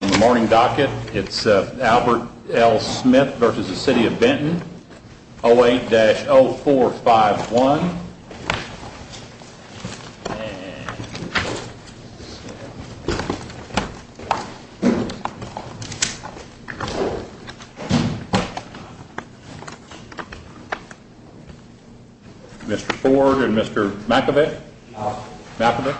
The morning docket, it's Albert L. Smith versus the City of Benton, 08-0451. Mr. Ford and Mr. McEvitt, McEvitt. Mr. McEvitt.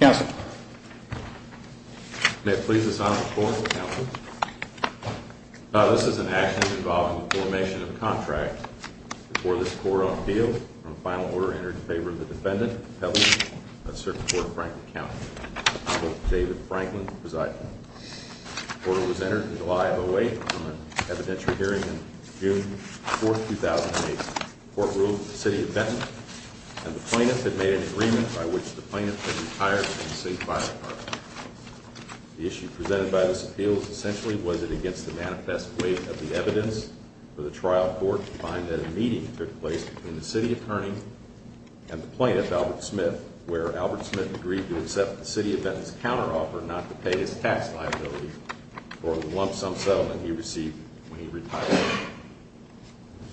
Council. May it please the sign of the court, council. This is an action involving the formation of a contract. Before this court on appeal, a final order entered in favor of the defendant, Peveley, of Circuit Court of Franklin County. Honorable David Franklin presiding. The order was entered in July of 08 on an evidentiary hearing on June 4, 2008. The court ruled that the City of Benton and the plaintiff had made an agreement by which the plaintiff could retire from the city fire department. The issue presented by this appeal is essentially, was it against the manifest weight of the evidence for the trial court to find that a meeting took place between the city attorney and the plaintiff, Albert Smith, where Albert Smith agreed to accept the City of Benton's counteroffer not to pay his tax liability for the lump sum settlement he received when he retired.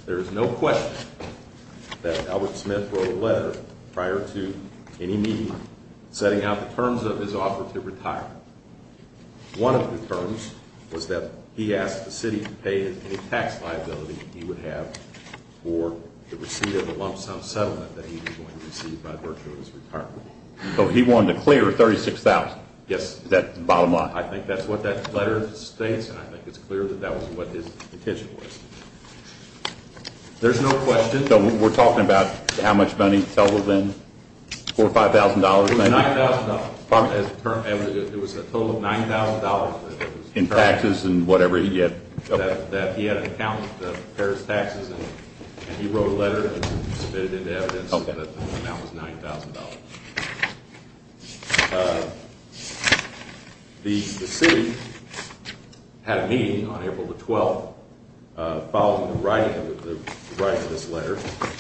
There is no question that Albert Smith wrote a letter prior to any meeting setting out the terms of his offer to retire. One of the terms was that he asked the city to pay any tax liability he would have for the receipt of the lump sum settlement that he was going to receive by virtue of his retirement. So he wanted to clear $36,000. Yes. Is that the bottom line? I think that's what that letter states, and I think it's clear that that was what his intention was. There's no question. So we're talking about how much money totaled in? $4,000 or $5,000 maybe? It was $9,000. Pardon me. It was a total of $9,000. In taxes and whatever he had? That he had an account to pay his taxes, and he wrote a letter and submitted evidence that the amount was $9,000. The city had a meeting on April 12th following the writing of this letter,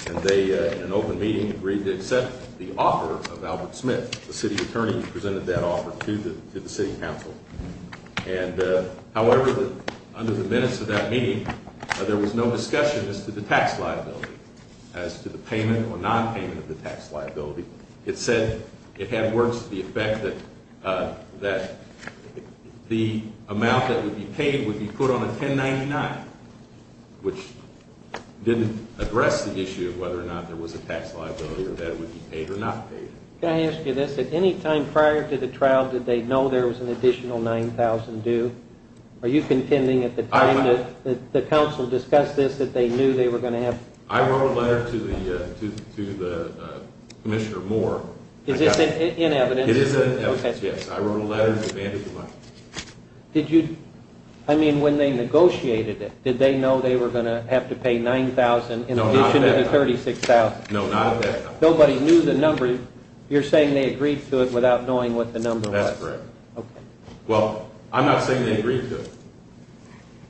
and they, in an open meeting, agreed to accept the offer of Albert Smith, the city attorney who presented that offer, to the city council. However, under the minutes of that meeting, there was no discussion as to the tax liability, as to the payment or nonpayment of the tax liability. It said it had words to the effect that the amount that would be paid would be put on a 1099, which didn't address the issue of whether or not there was a tax liability or that it would be paid or not paid. Can I ask you this? At any time prior to the trial, did they know there was an additional $9,000 due? Are you contending at the time that the council discussed this I wrote a letter to Commissioner Moore. Is this in evidence? It is in evidence, yes. I wrote a letter and demanded the money. Did you, I mean, when they negotiated it, did they know they were going to have to pay $9,000 in addition to the $36,000? No, not at that time. Nobody knew the number. You're saying they agreed to it without knowing what the number was? That's correct. Okay. Well, I'm not saying they agreed to it.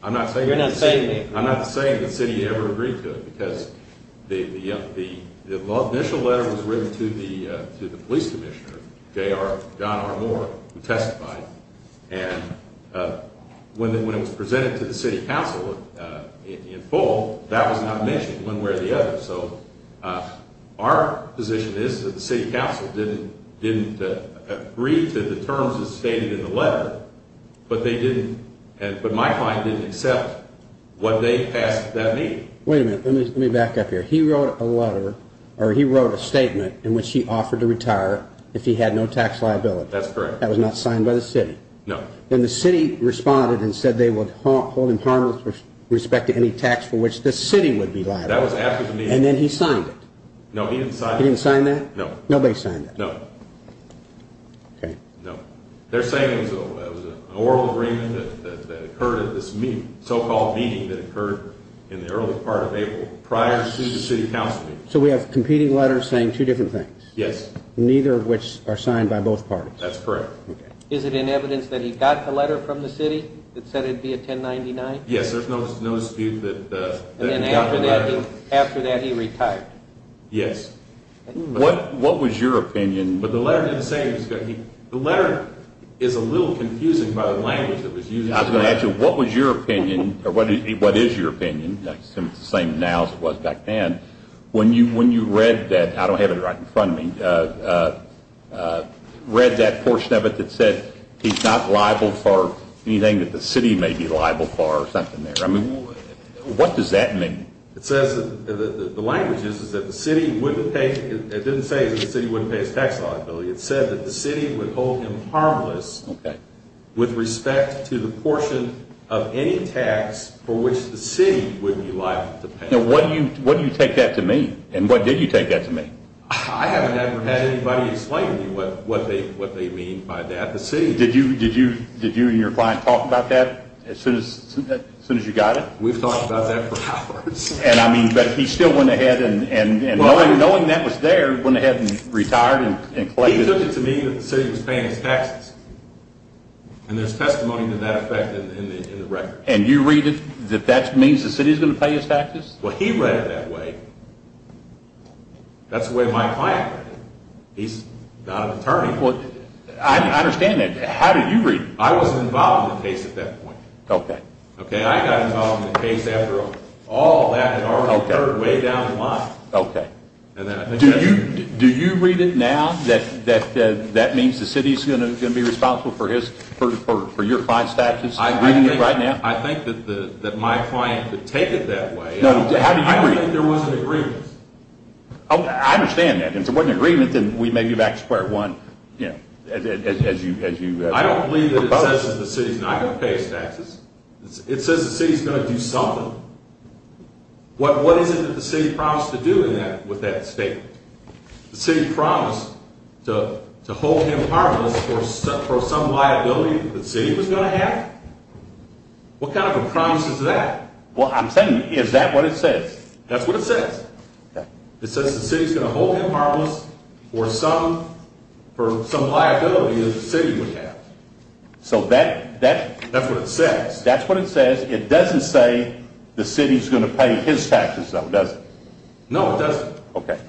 You're not saying they agreed to it. I'm not saying the city ever agreed to it because the initial letter was written to the police commissioner, John R. Moore, who testified, and when it was presented to the city council in full, that was not mentioned one way or the other. So our position is that the city council didn't agree to the terms that's stated in the letter, but they didn't, but my client didn't accept when they passed that meeting. Wait a minute. Let me back up here. He wrote a letter, or he wrote a statement in which he offered to retire if he had no tax liability. That's correct. That was not signed by the city? No. Then the city responded and said they would hold him harmless with respect to any tax for which the city would be liable. That was after the meeting. And then he signed it. No, he didn't sign it. He didn't sign that? No. Nobody signed it? No. Okay. They're saying it was an oral agreement that occurred at this so-called meeting that occurred in the early part of April prior to the city council meeting. So we have competing letters saying two different things. Yes. Neither of which are signed by both parties. That's correct. Is it in evidence that he got the letter from the city that said it would be a 1099? Yes, there's no dispute that he got the letter. And then after that he retired? Yes. What was your opinion? But the letter didn't say he was going to be. The letter is a little confusing by the language that was used. I was going to ask you, what was your opinion, or what is your opinion? It's the same now as it was back then. When you read that, I don't have it right in front of me, read that portion of it that said he's not liable for anything that the city may be liable for or something there. I mean, what does that mean? It says that the language is that the city wouldn't pay, it didn't say that the city wouldn't pay his tax liability. It said that the city would hold him harmless with respect to the portion of any tax for which the city would be liable to pay. Now, what do you take that to mean? And what did you take that to mean? I haven't ever had anybody explain to me what they mean by that. Did you and your client talk about that as soon as you got it? We've talked about that for hours. But he still went ahead and, knowing that was there, went ahead and retired and collected it. He took it to mean that the city was paying his taxes, and there's testimony to that effect in the record. And you read it that that means the city is going to pay his taxes? Well, he read it that way. That's the way my client read it. He's not an attorney. I understand that. How did you read it? I was involved in the case at that point. Okay. I got involved in the case after all that had already occurred way down the line. Okay. Do you read it now that that means the city is going to be responsible for your client's taxes? I think that my client would take it that way. No, how do you read it? I don't think there was an agreement. I understand that. If there wasn't an agreement, then we may be back to square one. I don't believe that it says that the city is not going to pay his taxes. It says the city is going to do something. What is it that the city promised to do with that statement? The city promised to hold him harmless for some liability that the city was going to have? What kind of a promise is that? Well, I'm saying is that what it says? That's what it says. It says the city is going to hold him harmless for some liability that the city would have. So that's what it says. That's what it says. It doesn't say the city is going to pay his taxes, though, does it? No, it doesn't. Okay.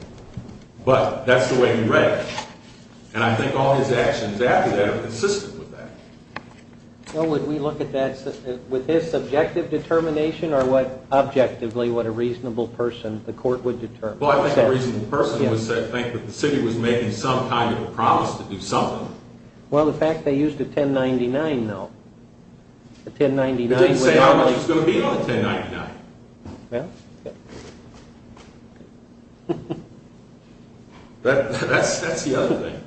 But that's the way he read it, and I think all his actions after that are consistent with that. Well, would we look at that with his subjective determination or objectively what a reasonable person the court would determine? Well, I think a reasonable person would think that the city was making some kind of a promise to do something. Well, the fact they used a 1099, though. It didn't say how much was going to be on the 1099. That's the other thing.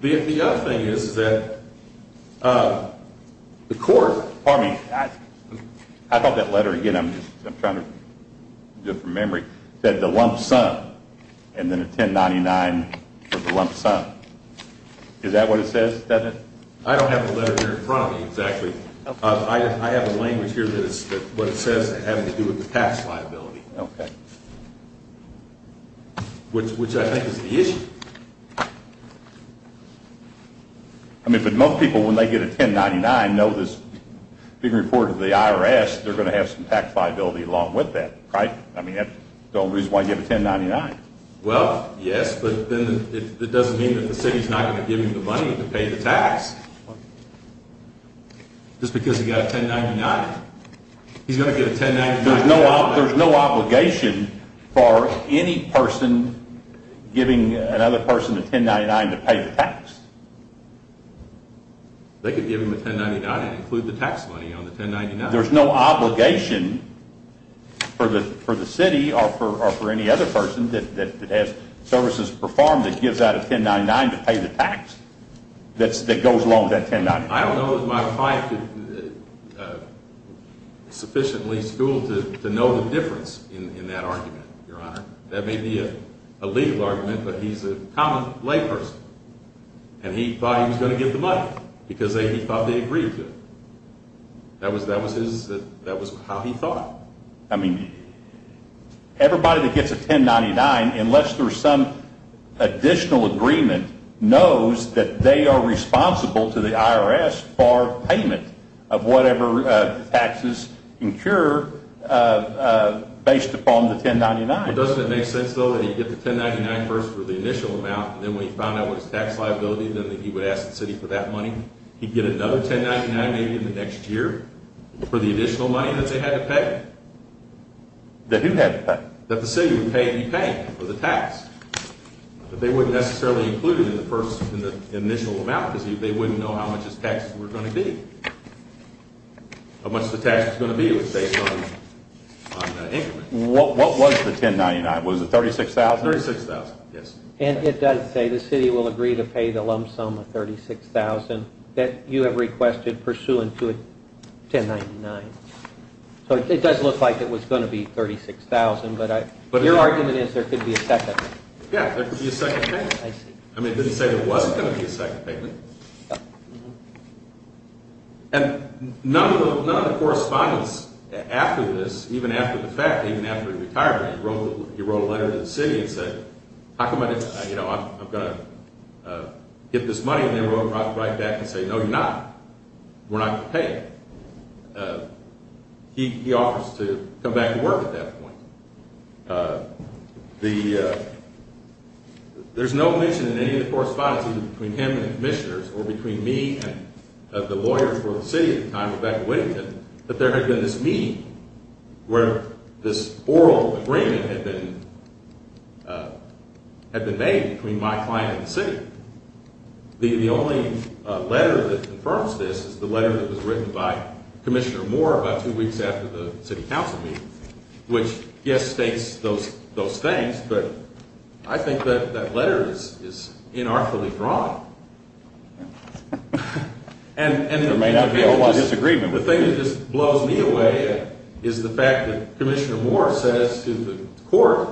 The other thing is that the court Pardon me. I thought that letter, again, I'm trying to do it from memory, said the lump sum and then a 1099 for the lump sum. Is that what it says? I don't have the letter here in front of me, exactly. I have a language here that is what it says having to do with the tax liability. Okay. Which I think is the issue. I mean, but most people, when they get a 1099, know this being reported to the IRS, they're going to have some tax liability along with that, right? I mean, that's the only reason why he gave a 1099. Well, yes, but then it doesn't mean that the city is not going to give him the money to pay the tax. Just because he got a 1099. He's going to get a 1099. There's no obligation for any person giving another person a 1099 to pay the tax. They could give him a 1099 and include the tax money on the 1099. There's no obligation for the city or for any other person that has services performed that gives out a 1099 to pay the tax that goes along with that 1099. I don't know that my client is sufficiently schooled to know the difference in that argument, Your Honor. That may be a legal argument, but he's a common layperson. And he thought he was going to get the money because he thought they agreed to it. That was how he thought. I mean, everybody that gets a 1099, unless there's some additional agreement, knows that they are responsible to the IRS for payment of whatever taxes incurred based upon the 1099. Doesn't it make sense, though, that he'd get the 1099 first for the initial amount, and then when he found out what his tax liability was, then he would ask the city for that money? He'd get another 1099 maybe in the next year for the additional money that they had to pay? That who had to pay? That the city would pay and he paid for the tax. But they wouldn't necessarily include it in the initial amount because they wouldn't know how much his taxes were going to be. How much the tax was going to be was based on increment. What was the 1099? Was it $36,000? $36,000, yes. And it does say the city will agree to pay the lump sum of $36,000 that you have requested pursuant to a 1099. So it does look like it was going to be $36,000, but your argument is there could be a second. Yeah, there could be a second payment. I mean, it didn't say there wasn't going to be a second payment. And none of the correspondence after this, even after the fact, even after he retired, he wrote a letter to the city and said, how come I didn't, you know, I've got to get this money, and they wrote right back and say, no, you're not. We're not going to pay you. He offers to come back to work at that point. There's no mention in any of the correspondence between him and the commissioners or between me and the lawyer for the city at the time, Rebecca Whittington, that there had been this meeting where this oral agreement had been made between my client and the city. The only letter that confirms this is the letter that was written by Commissioner Moore about two weeks after the city council meeting, which, yes, states those things, but I think that that letter is inartfully drawn. And the thing that just blows me away is the fact that Commissioner Moore says to the court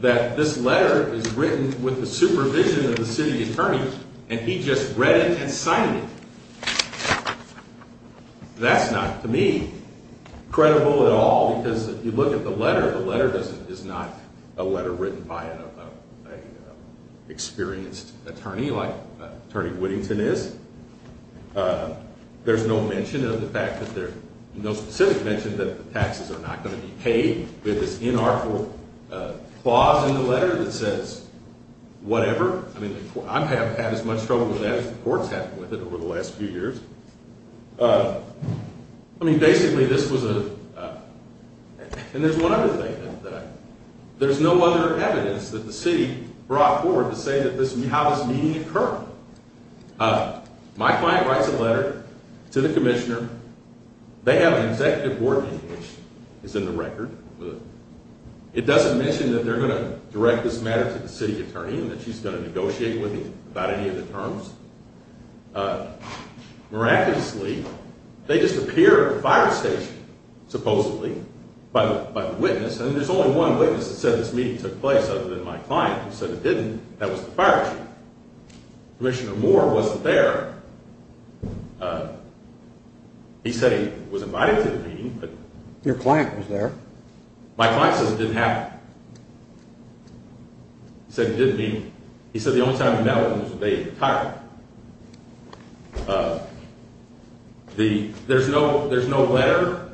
that this letter is written with the supervision of the city attorney, and he just read it and signed it. That's not, to me, credible at all, because if you look at the letter, the letter is not a letter written by an experienced attorney like Attorney Whittington is. There's no mention of the fact that there's no specific mention that the taxes are not going to be paid. There's this inartful clause in the letter that says whatever. I mean, I have had as much trouble with that as the court's had with it over the last few years. I mean, basically, this was a – and there's one other thing. There's no other evidence that the city brought forward to say that this – how this meeting occurred. My client writes a letter to the commissioner. They have an executive board meeting, which is in the record. It doesn't mention that they're going to direct this matter to the city attorney and that she's going to negotiate with him about any of the terms. Miraculously, they just appear at a fire station, supposedly, by the witness. And there's only one witness that said this meeting took place other than my client, who said it didn't. That was the fire chief. Commissioner Moore wasn't there. He said he was invited to the meeting. Your client was there. My client says it didn't happen. He said he didn't meet me. He said the only time he met was the day he retired. There's no letter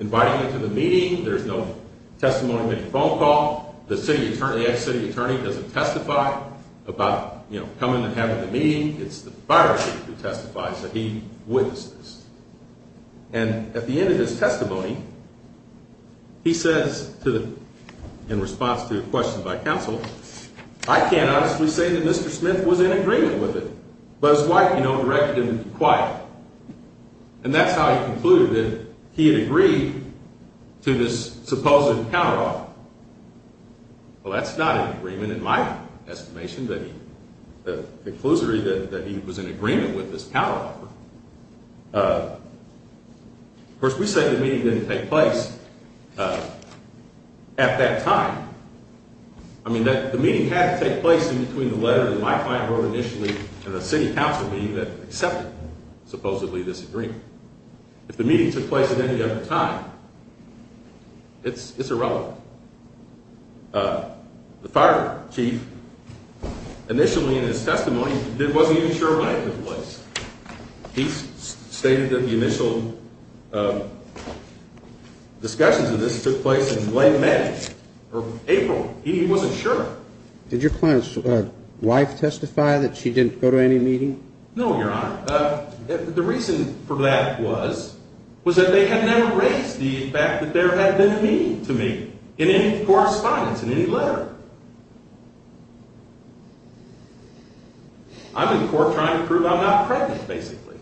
inviting him to the meeting. There's no testimony made to phone call. The city attorney – the ex-city attorney doesn't testify about coming and having the meeting. It's the fire chief who testifies that he witnesses. And at the end of his testimony, he says, in response to a question by counsel, I can't honestly say that Mr. Smith was in agreement with it, but his wife, you know, directed him to be quiet. And that's how he concluded that he had agreed to this supposed counteroffer. Well, that's not an agreement in my estimation that he – the conclusory that he was in agreement with this counteroffer. Of course, we say the meeting didn't take place at that time. I mean, the meeting had to take place in between the letter that my client wrote initially and the city council meeting that accepted, supposedly, this agreement. If the meeting took place at any other time, it's irrelevant. The fire chief, initially in his testimony, wasn't even sure when it took place. He stated that the initial discussions of this took place in late May or April. He wasn't sure. Did your client's wife testify that she didn't go to any meeting? No, Your Honor. The reason for that was that they had never raised the fact that there had been a meeting to me in any correspondence, in any letter. I'm in court trying to prove I'm not pregnant, basically.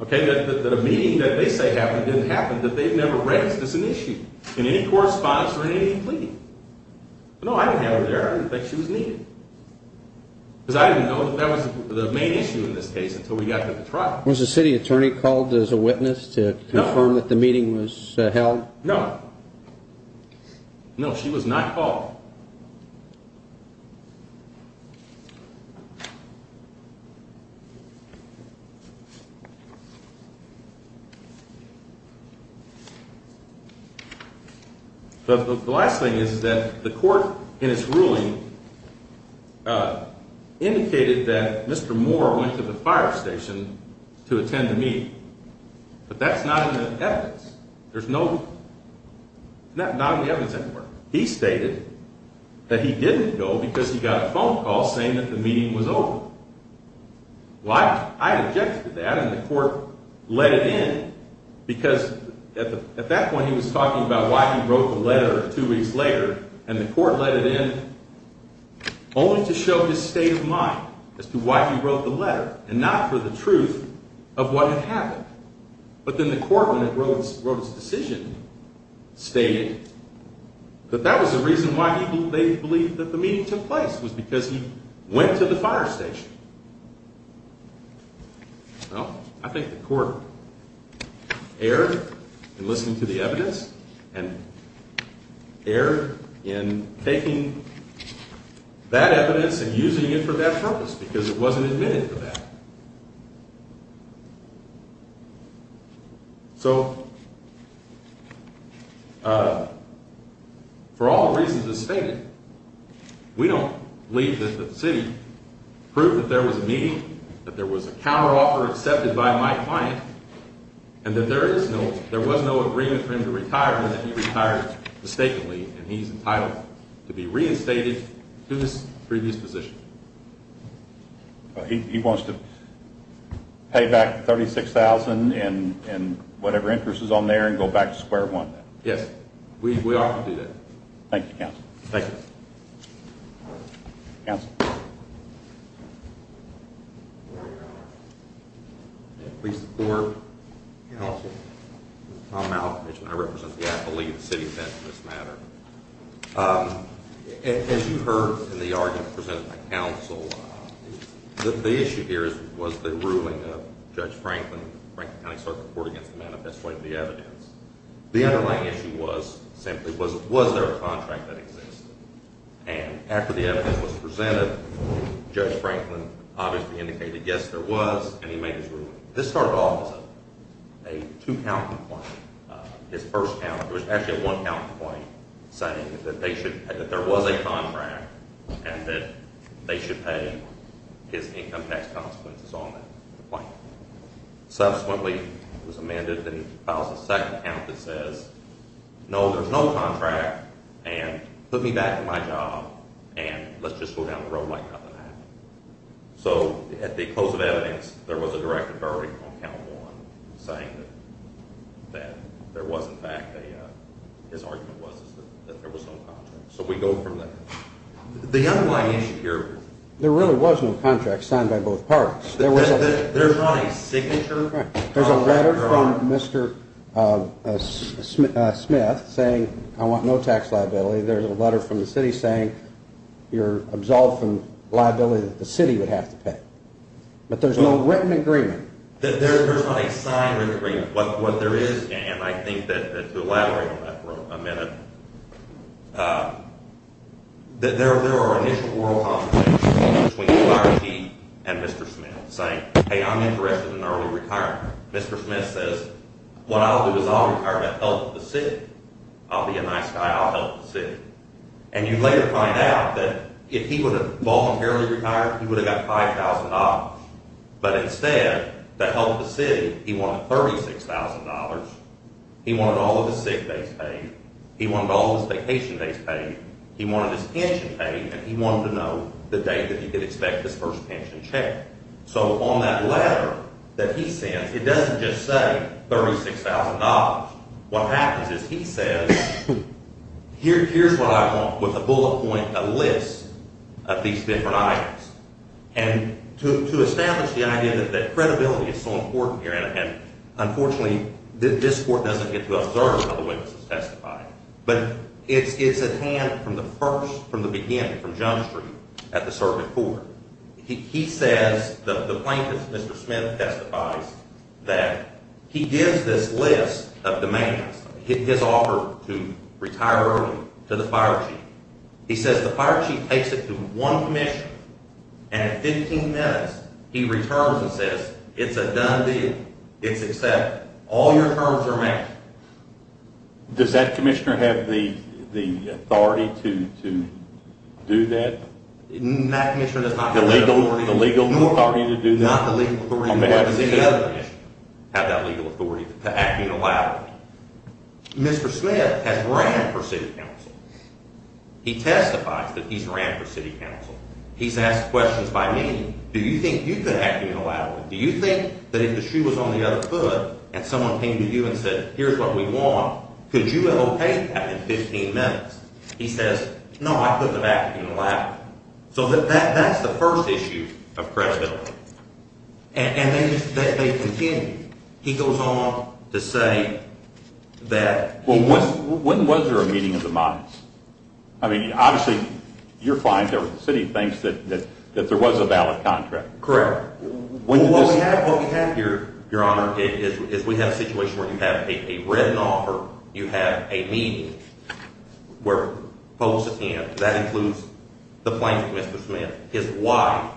Okay? That a meeting that they say happened didn't happen, that they've never raised as an issue in any correspondence or in any plea. No, I didn't have her there. I didn't think she was needed. Because I didn't know that that was the main issue in this case until we got to the trial. Was the city attorney called as a witness to confirm that the meeting was held? No. No, she was not called. The last thing is that the court, in its ruling, indicated that Mr. Moore went to the fire station to attend a meeting. But that's not in the evidence. There's no... Not in the evidence, I'm sorry. That he didn't go because he got a phone call saying that the meeting was over. Well, I objected to that, and the court let it in because at that point he was talking about why he wrote the letter two weeks later, and the court let it in only to show his state of mind as to why he wrote the letter and not for the truth of what had happened. But then the court, when it wrote its decision, stated that that was the reason why they believed that the meeting took place, was because he went to the fire station. Well, I think the court erred in listening to the evidence and erred in taking that evidence and using it for that purpose because it wasn't admitted for that. So, for all the reasons that are stated, we don't believe that the city proved that there was a meeting, that there was a counteroffer accepted by my client, and that there was no agreement for him to retire and that he retired mistakenly and he's entitled to be reinstated to his previous position. He wants to pay back $36,000 and whatever interest is on there and go back to square one? Yes. We offer to do that. Thank you, counsel. Thank you. Counsel. Please support. Counsel. Tom Alford. I represent the affiliate of the city of Benton, for this matter. As you heard in the argument presented by counsel, the issue here was the ruling of Judge Franklin, Franklin County Circuit Court, against the manifesto of the evidence. The underlying issue was, simply, was there a contract that existed? And after the evidence was presented, Judge Franklin obviously indicated, yes, there was, and he made his ruling. This started off as a two-count complaint. His first count, it was actually a one-count complaint, saying that there was a contract and that they should pay him his income tax consequences on that complaint. Subsequently, it was amended and filed a second count that says, no, there's no contract and put me back in my job and let's just go down the road like nothing happened. So at the close of evidence, there was a direct authority on count one saying that there was, in fact, his argument was that there was no contract. So we go from there. The underlying issue here, there really was no contract signed by both parties. There's not a signature? There's a letter from Mr. Smith saying, I want no tax liability. There's a letter from the city saying you're absolved from liability that the city would have to pay. But there's no written agreement? There's not a signed written agreement. What there is, and I think that to elaborate on that for a minute, that there are initial oral confrontations between Larry Keith and Mr. Smith, saying, hey, I'm interested in early retirement. Mr. Smith says, what I'll do is I'll retire and I'll help the city. I'll be a nice guy. I'll help the city. And you later find out that if he would have voluntarily retired, he would have got $5,000. But instead, to help the city, he wanted $36,000. He wanted all of his sick days paid. He wanted all of his vacation days paid. He wanted his pension paid. And he wanted to know the date that he could expect his first pension check. So on that letter that he sends, it doesn't just say $36,000. What happens is he says, here's what I want with a bullet point, a list of these different items. And to establish the idea that credibility is so important here, and unfortunately this court doesn't get to observe how the witnesses testify, but it's at hand from the first, from the beginning, from Jump Street at the circuit court. He says, the plaintiff, Mr. Smith, testifies that he gives this list of demands, his offer to retire early to the fire chief. He says the fire chief takes it to one commissioner, and at 15 minutes he returns and says, it's a done deal. It's accepted. All your terms are met. Does that commissioner have the authority to do that? That commissioner does not have that authority, nor does any other commissioner have that legal authority to act unilaterally. Mr. Smith has ran for city council. He testifies that he's ran for city council. He's asked questions by me. Do you think you could act unilaterally? Do you think that if the shoe was on the other foot and someone came to you and said, here's what we want, could you allocate that in 15 minutes? He says, no, I couldn't have acted unilaterally. So that's the first issue of credibility. And then they continue. He goes on to say that he – Well, when was there a meeting of the minds? I mean, obviously, you're fine. The city thinks that there was a valid contract. Correct. What we have, Your Honor, is we have a situation where you have a written offer, you have a meeting where folks attend. That includes the plaintiff, Mr. Smith, his wife,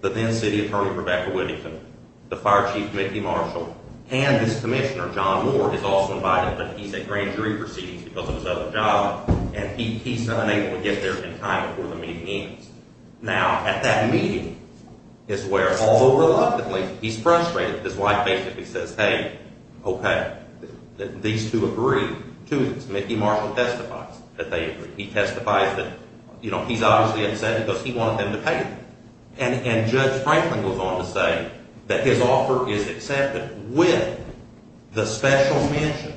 the then city attorney, Rebecca Whittington, the fire chief, Mickey Marshall, and this commissioner, John Moore, is also invited, but he's at grand jury proceedings because of his other job, and he's unable to get there in time before the meeting ends. Now, at that meeting is where, although reluctantly, he's frustrated, his wife basically says, hey, okay, these two agree to this. Mickey Marshall testifies that they agree. He testifies that, you know, he's obviously upset because he wanted them to pay him. And Judge Franklin goes on to say that his offer is accepted with the special mention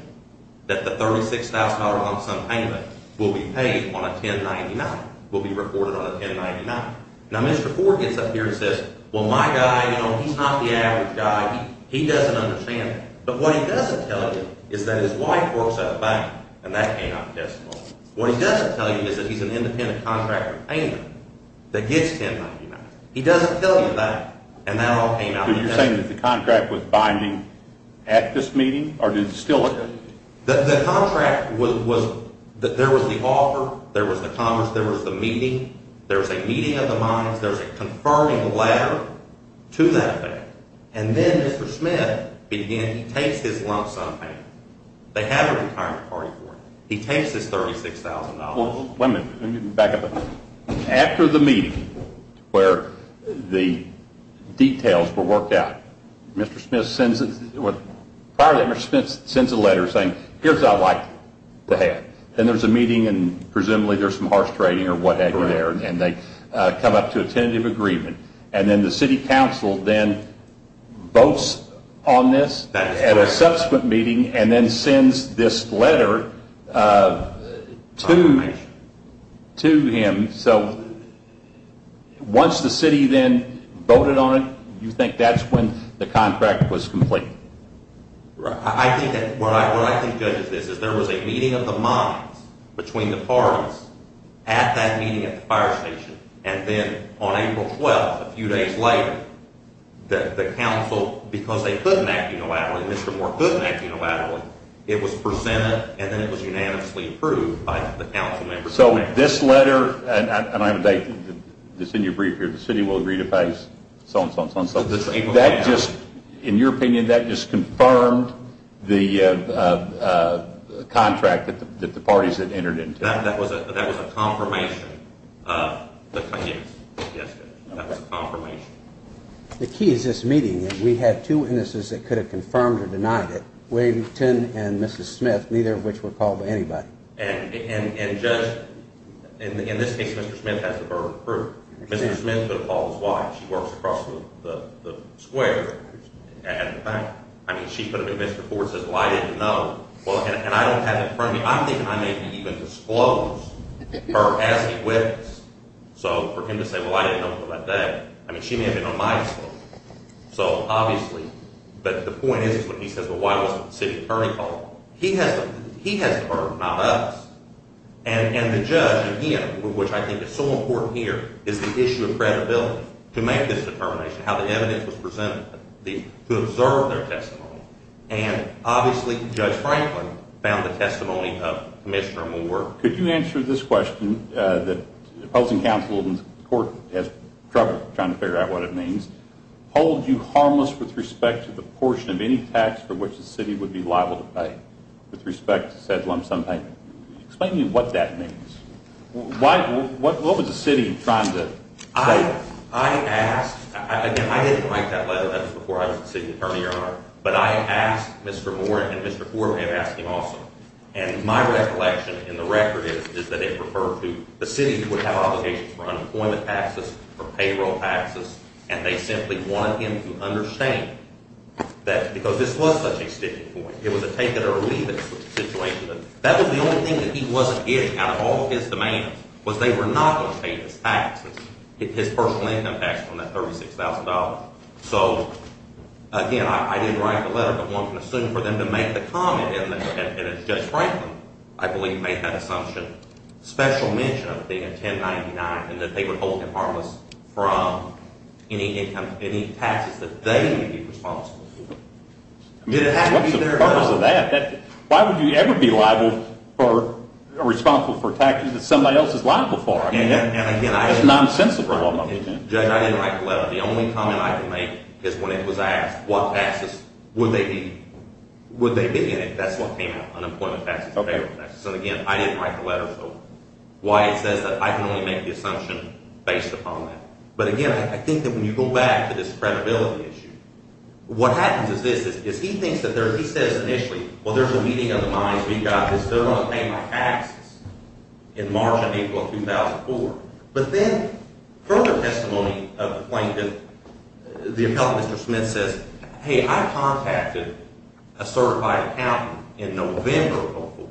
that the $36,000 lump sum payment will be paid on a 1099, will be reported on a 1099. Now, Mr. Ford gets up here and says, well, my guy, you know, he's not the average guy. He doesn't understand that. But what he doesn't tell you is that his wife works at a bank, and that came out in testimony. What he doesn't tell you is that he's an independent contractor payment that gets 1099. He doesn't tell you that, and that all came out in testimony. So you're saying that the contract was binding at this meeting, or did it steal it? The contract was that there was the offer, there was the commerce, there was the meeting. There was a meeting of the minds. There was a confirming letter to that bank. And then Mr. Smith, again, he takes his lump sum payment. They have a retirement party for him. He takes his $36,000. Well, wait a minute. Let me back up a minute. After the meeting where the details were worked out, Mr. Smith sends a letter saying, here's what I'd like to have. Then there's a meeting, and presumably there's some harsh trading or what have you there. And they come up to a tentative agreement. And then the city council then votes on this at a subsequent meeting and then sends this letter to him. So once the city then voted on it, you think that's when the contract was completed? What I think, Judge, is this. There was a meeting of the minds between the parties at that meeting at the fire station. And then on April 12th, a few days later, the council, because they couldn't act unilaterally, Mr. Moore couldn't act unilaterally, it was presented and then it was unanimously approved by the council members. So this letter, and I have a date. It's in your brief here. The city will agree to pay so-and-so and so-and-so. In your opinion, that just confirmed the contract that the parties had entered into? That was a confirmation. The key is this meeting. We had two witnesses that could have confirmed or denied it, Wayne Tinn and Mrs. Smith, neither of which were called by anybody. And Judge, in this case, Mr. Smith has the verbal proof. Mrs. Smith could have called his wife. She works across the square at the bank. I mean, she could have been Mr. Ford and said, well, I didn't know. And I don't have it in front of me. I don't think I may have even disclosed her as a witness. So for him to say, well, I didn't know until that day, I mean, she may have been on my school. So obviously, but the point is, he says, well, why wasn't the city attorney called? He has the verb, not us. And the judge, again, which I think is so important here, is the issue of credibility to make this determination, how the evidence was presented, to observe their testimony. And obviously, Judge Franklin found the testimony of Commissioner Moore. Could you answer this question that the opposing counsel in the court has trouble trying to figure out what it means? Hold you harmless with respect to the portion of any tax for which the city would be liable to pay, with respect to said lump sum payment. Explain to me what that means. What was the city trying to say? I asked. Again, I didn't write that letter. That was before I was the city attorney or not. But I asked Mr. Moore and Mr. Ford have asked him also. And my recollection in the record is that it referred to the city would have obligations for unemployment taxes, for payroll taxes, and they simply wanted him to understand that because this was such a sticking point. It was a take-it-or-leave-it situation. That was the only thing that he wasn't getting out of all of his demands was they were not going to pay his taxes, his personal income taxes on that $36,000. So, again, I didn't write the letter, but one can assume for them to make the comment, and Judge Franklin, I believe, made that assumption, special mention of the 1099, and that they would hold him harmless from any income, any taxes that they would be responsible for. What's the purpose of that? Why would you ever be responsible for taxes that somebody else is liable for? That's nonsensical. Judge, I didn't write the letter. The only comment I can make is when it was asked what taxes would they be in it, that's what came out, unemployment taxes, payroll taxes. So, again, I didn't write the letter, so why it says that I can only make the assumption based upon that. But, again, I think that when you go back to this credibility issue, what happens is this. He says initially, well, there's a meeting of the minds. We've got this. They're going to pay my taxes in March and April of 2004. But then further testimony of the plaintiff, the appellant, Mr. Smith, says, hey, I contacted a certified accountant in November of 2004,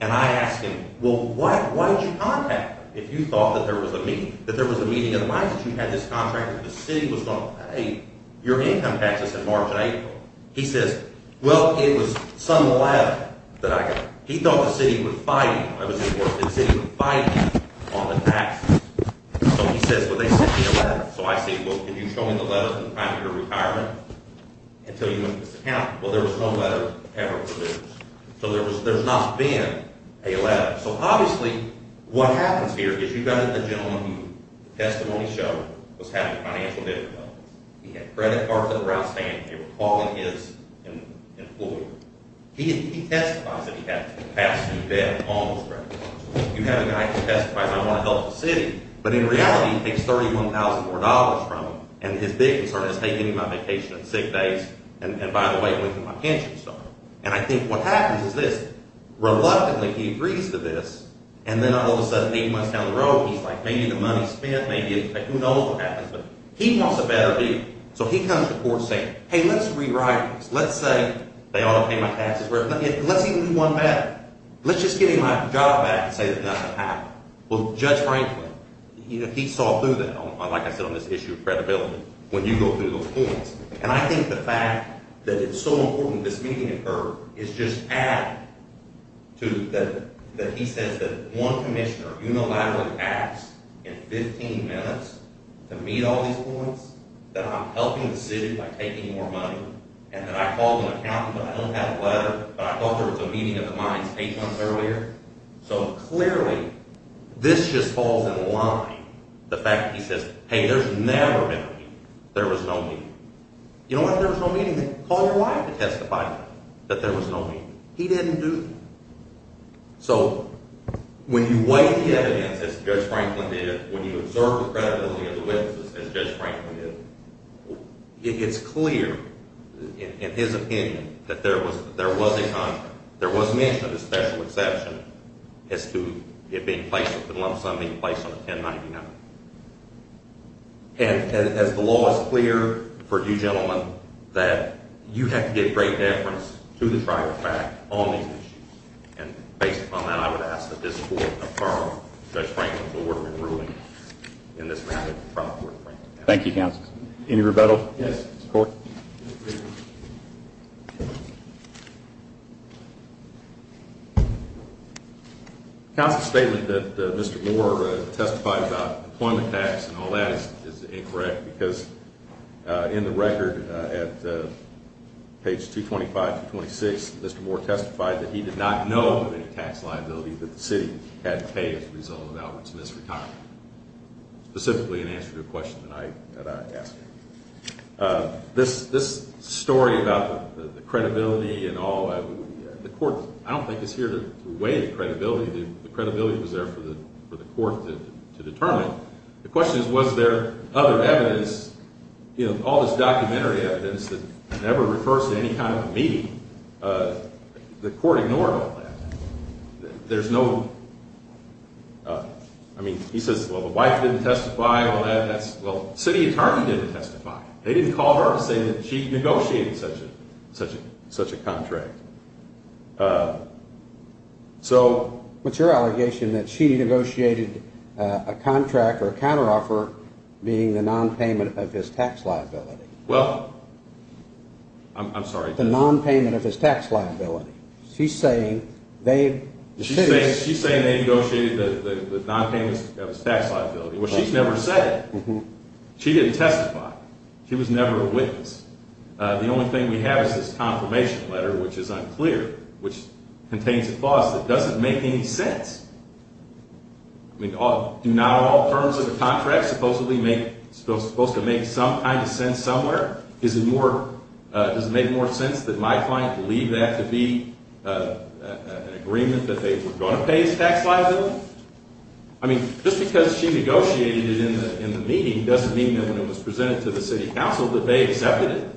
and I asked him, well, why did you contact him? If you thought that there was a meeting, that there was a meeting of the minds, you had this contractor, the city was going to pay your income taxes in March and April. He says, well, it was some letter that I got. He thought the city would fight him. I was informed that the city would fight him on the taxes. So he says, well, they sent me a letter. So I say, well, can you show me the letter from the time of your retirement until you went to this account? Well, there was no letter ever produced. So there's not been a letter. So obviously what happens here is you've got the gentleman who the testimony showed was having financial difficulties. He had credit cards that were outstanding. They were calling his employer. He testifies that he had to pass through debt on those credit cards. You have a guy who testifies, I want to help the city, but in reality he takes $31,000 from him, and his big concern is, hey, give me my vacation and sick days, and by the way, it went to my pension and stuff. And I think what happens is this. Reluctantly he agrees to this, and then all of a sudden eight months down the road he's like, maybe the money's spent. Who knows what happens, but he wants a better view. So he comes to court saying, hey, let's rewrite this. Let's say they ought to pay my taxes. Let's even do one better. Let's just give him my job back and say that nothing happened. Well, Judge Franklin, he saw through that, like I said, on this issue of credibility when you go through those courts. And I think the fact that it's so important this meeting occurred is just added to that he says that one commissioner unilaterally asked in 15 minutes to meet all these points, that I'm helping the city by taking more money, and that I called an accountant, but I don't have a letter, but I thought there was a meeting of the minds eight months earlier. So clearly this just falls in line, the fact that he says, hey, there's never been a meeting. There was no meeting. You know what? If there was no meeting, then call your wife to testify that there was no meeting. He didn't do that. So when you weigh the evidence, as Judge Franklin did, when you observe the credibility of the witnesses, as Judge Franklin did, it's clear, in his opinion, that there was mention of the special exception as to it being placed, the lump sum being placed on the 1099. And as the law is clear for you gentlemen, that you have to get great deference to the trial fact on these issues. And based upon that, I would ask that this court confirm Judge Franklin's award in ruling in this matter to the trial court. Thank you, counsel. Yes. Court? Counsel's statement that Mr. Moore testified about employment tax and all that is incorrect, because in the record at page 225 through 226, Mr. Moore testified that he did not know of any tax liability that the city had to pay as a result of Albert Smith's retirement. Specifically in answer to a question that I asked. This story about the credibility and all, the court, I don't think is here to weigh the credibility. The credibility was there for the court to determine. The question is, was there other evidence, you know, all this documentary evidence that never refers to any kind of meeting. The court ignored all that. There's no, I mean, he says, well, the wife didn't testify, well, that's, well, city attorney didn't testify. They didn't call her to say that she negotiated such a contract. So. What's your allegation that she negotiated a contract or a counteroffer being the nonpayment of his tax liability? Well, I'm sorry. The nonpayment of his tax liability. She's saying they. She's saying they negotiated the nonpayment of his tax liability. Well, she's never said it. She didn't testify. She was never a witness. The only thing we have is this confirmation letter, which is unclear, which contains a clause that doesn't make any sense. I mean, do not all terms of the contract supposedly make, supposed to make some kind of sense somewhere? Is it more, does it make more sense that my client believed that to be an agreement that they were going to pay his tax liability? I mean, just because she negotiated it in the meeting doesn't mean that when it was presented to the city council that they accepted it.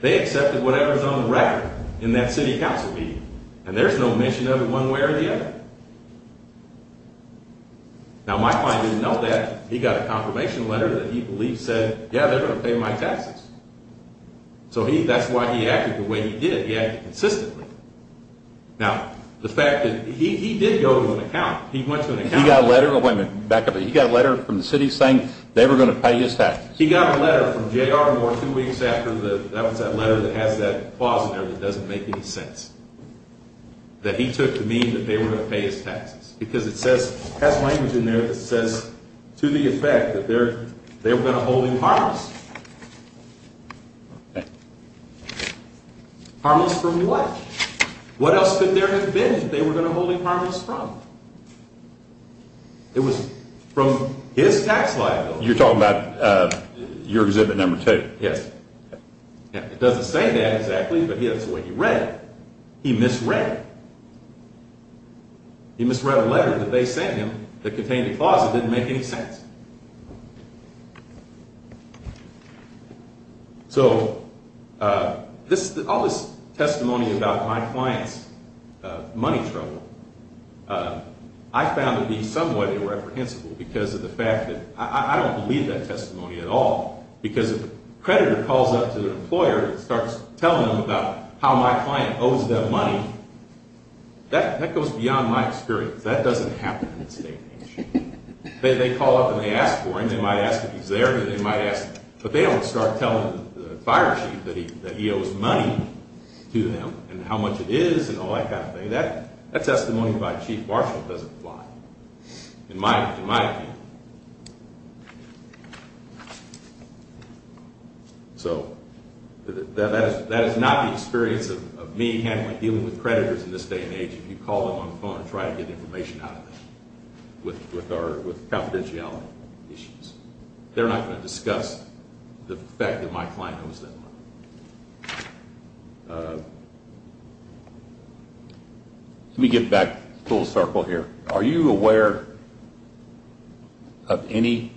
They accepted whatever's on the record in that city council meeting. And there's no mention of it one way or the other. Now, my client didn't know that. He got a confirmation letter that he believed said, yeah, they're going to pay my taxes. So he, that's why he acted the way he did. He acted consistently. Now, the fact that he did go to an account. He went to an account. He got a letter. Oh, wait a minute. Back up. He got a letter from the city saying they were going to pay his taxes. He got a letter from J.R. Moore two weeks after the, that was that letter that has that clause in there that doesn't make any sense. That he took to mean that they were going to pay his taxes. Because it says, it has language in there that says to the effect that they're going to hold him harmless. Harmless from what? What else could there have been that they were going to hold him harmless from? It was from his tax liability. You're talking about your exhibit number two. Yes. It doesn't say that exactly, but that's the way he read it. He misread it. He misread a letter that they sent him that contained a clause that didn't make any sense. So, all this testimony about my client's money trouble, I found to be somewhat irreprehensible because of the fact that, I don't believe that testimony at all. Because if a creditor calls up to an employer and starts telling them about how my client owes them money, that goes beyond my experience. That doesn't happen in the state. They call up and they ask for him. They might ask if he's there. They might ask, but they don't start telling the fire chief that he owes money to them and how much it is and all that kind of thing. That testimony by Chief Marshall doesn't apply, in my opinion. So, that is not the experience of me handling dealing with creditors in this day and age. If you call them on the phone and try to get information out of them with confidentiality issues, they're not going to discuss the fact that my client owes them money. Let me get back full circle here. Are you aware of any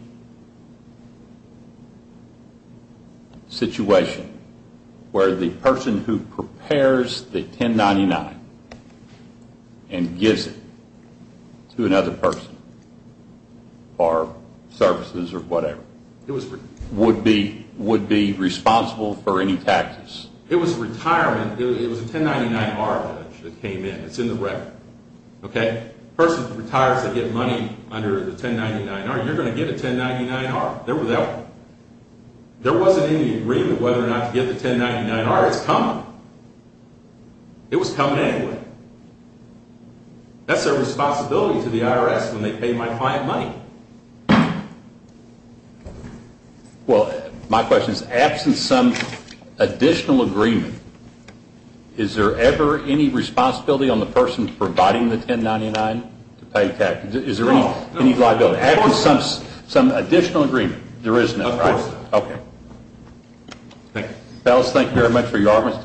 situation where the person who prepares the 1099 and gives it to another person, or services or whatever, would be responsible for any taxes? It was a retirement. It was a 1099-R that came in. It's in the record. A person retires to get money under the 1099-R. You're going to get a 1099-R. There wasn't any agreement whether or not to get the 1099-R. It's coming. It was coming anyway. That's their responsibility to the IRS when they pay my client money. Well, my question is, absent some additional agreement, is there ever any responsibility on the person providing the 1099 to pay taxes? Is there any liability? Absent some additional agreement, there is none, right? Of course not. Okay. Thank you. Fellas, thank you very much for your...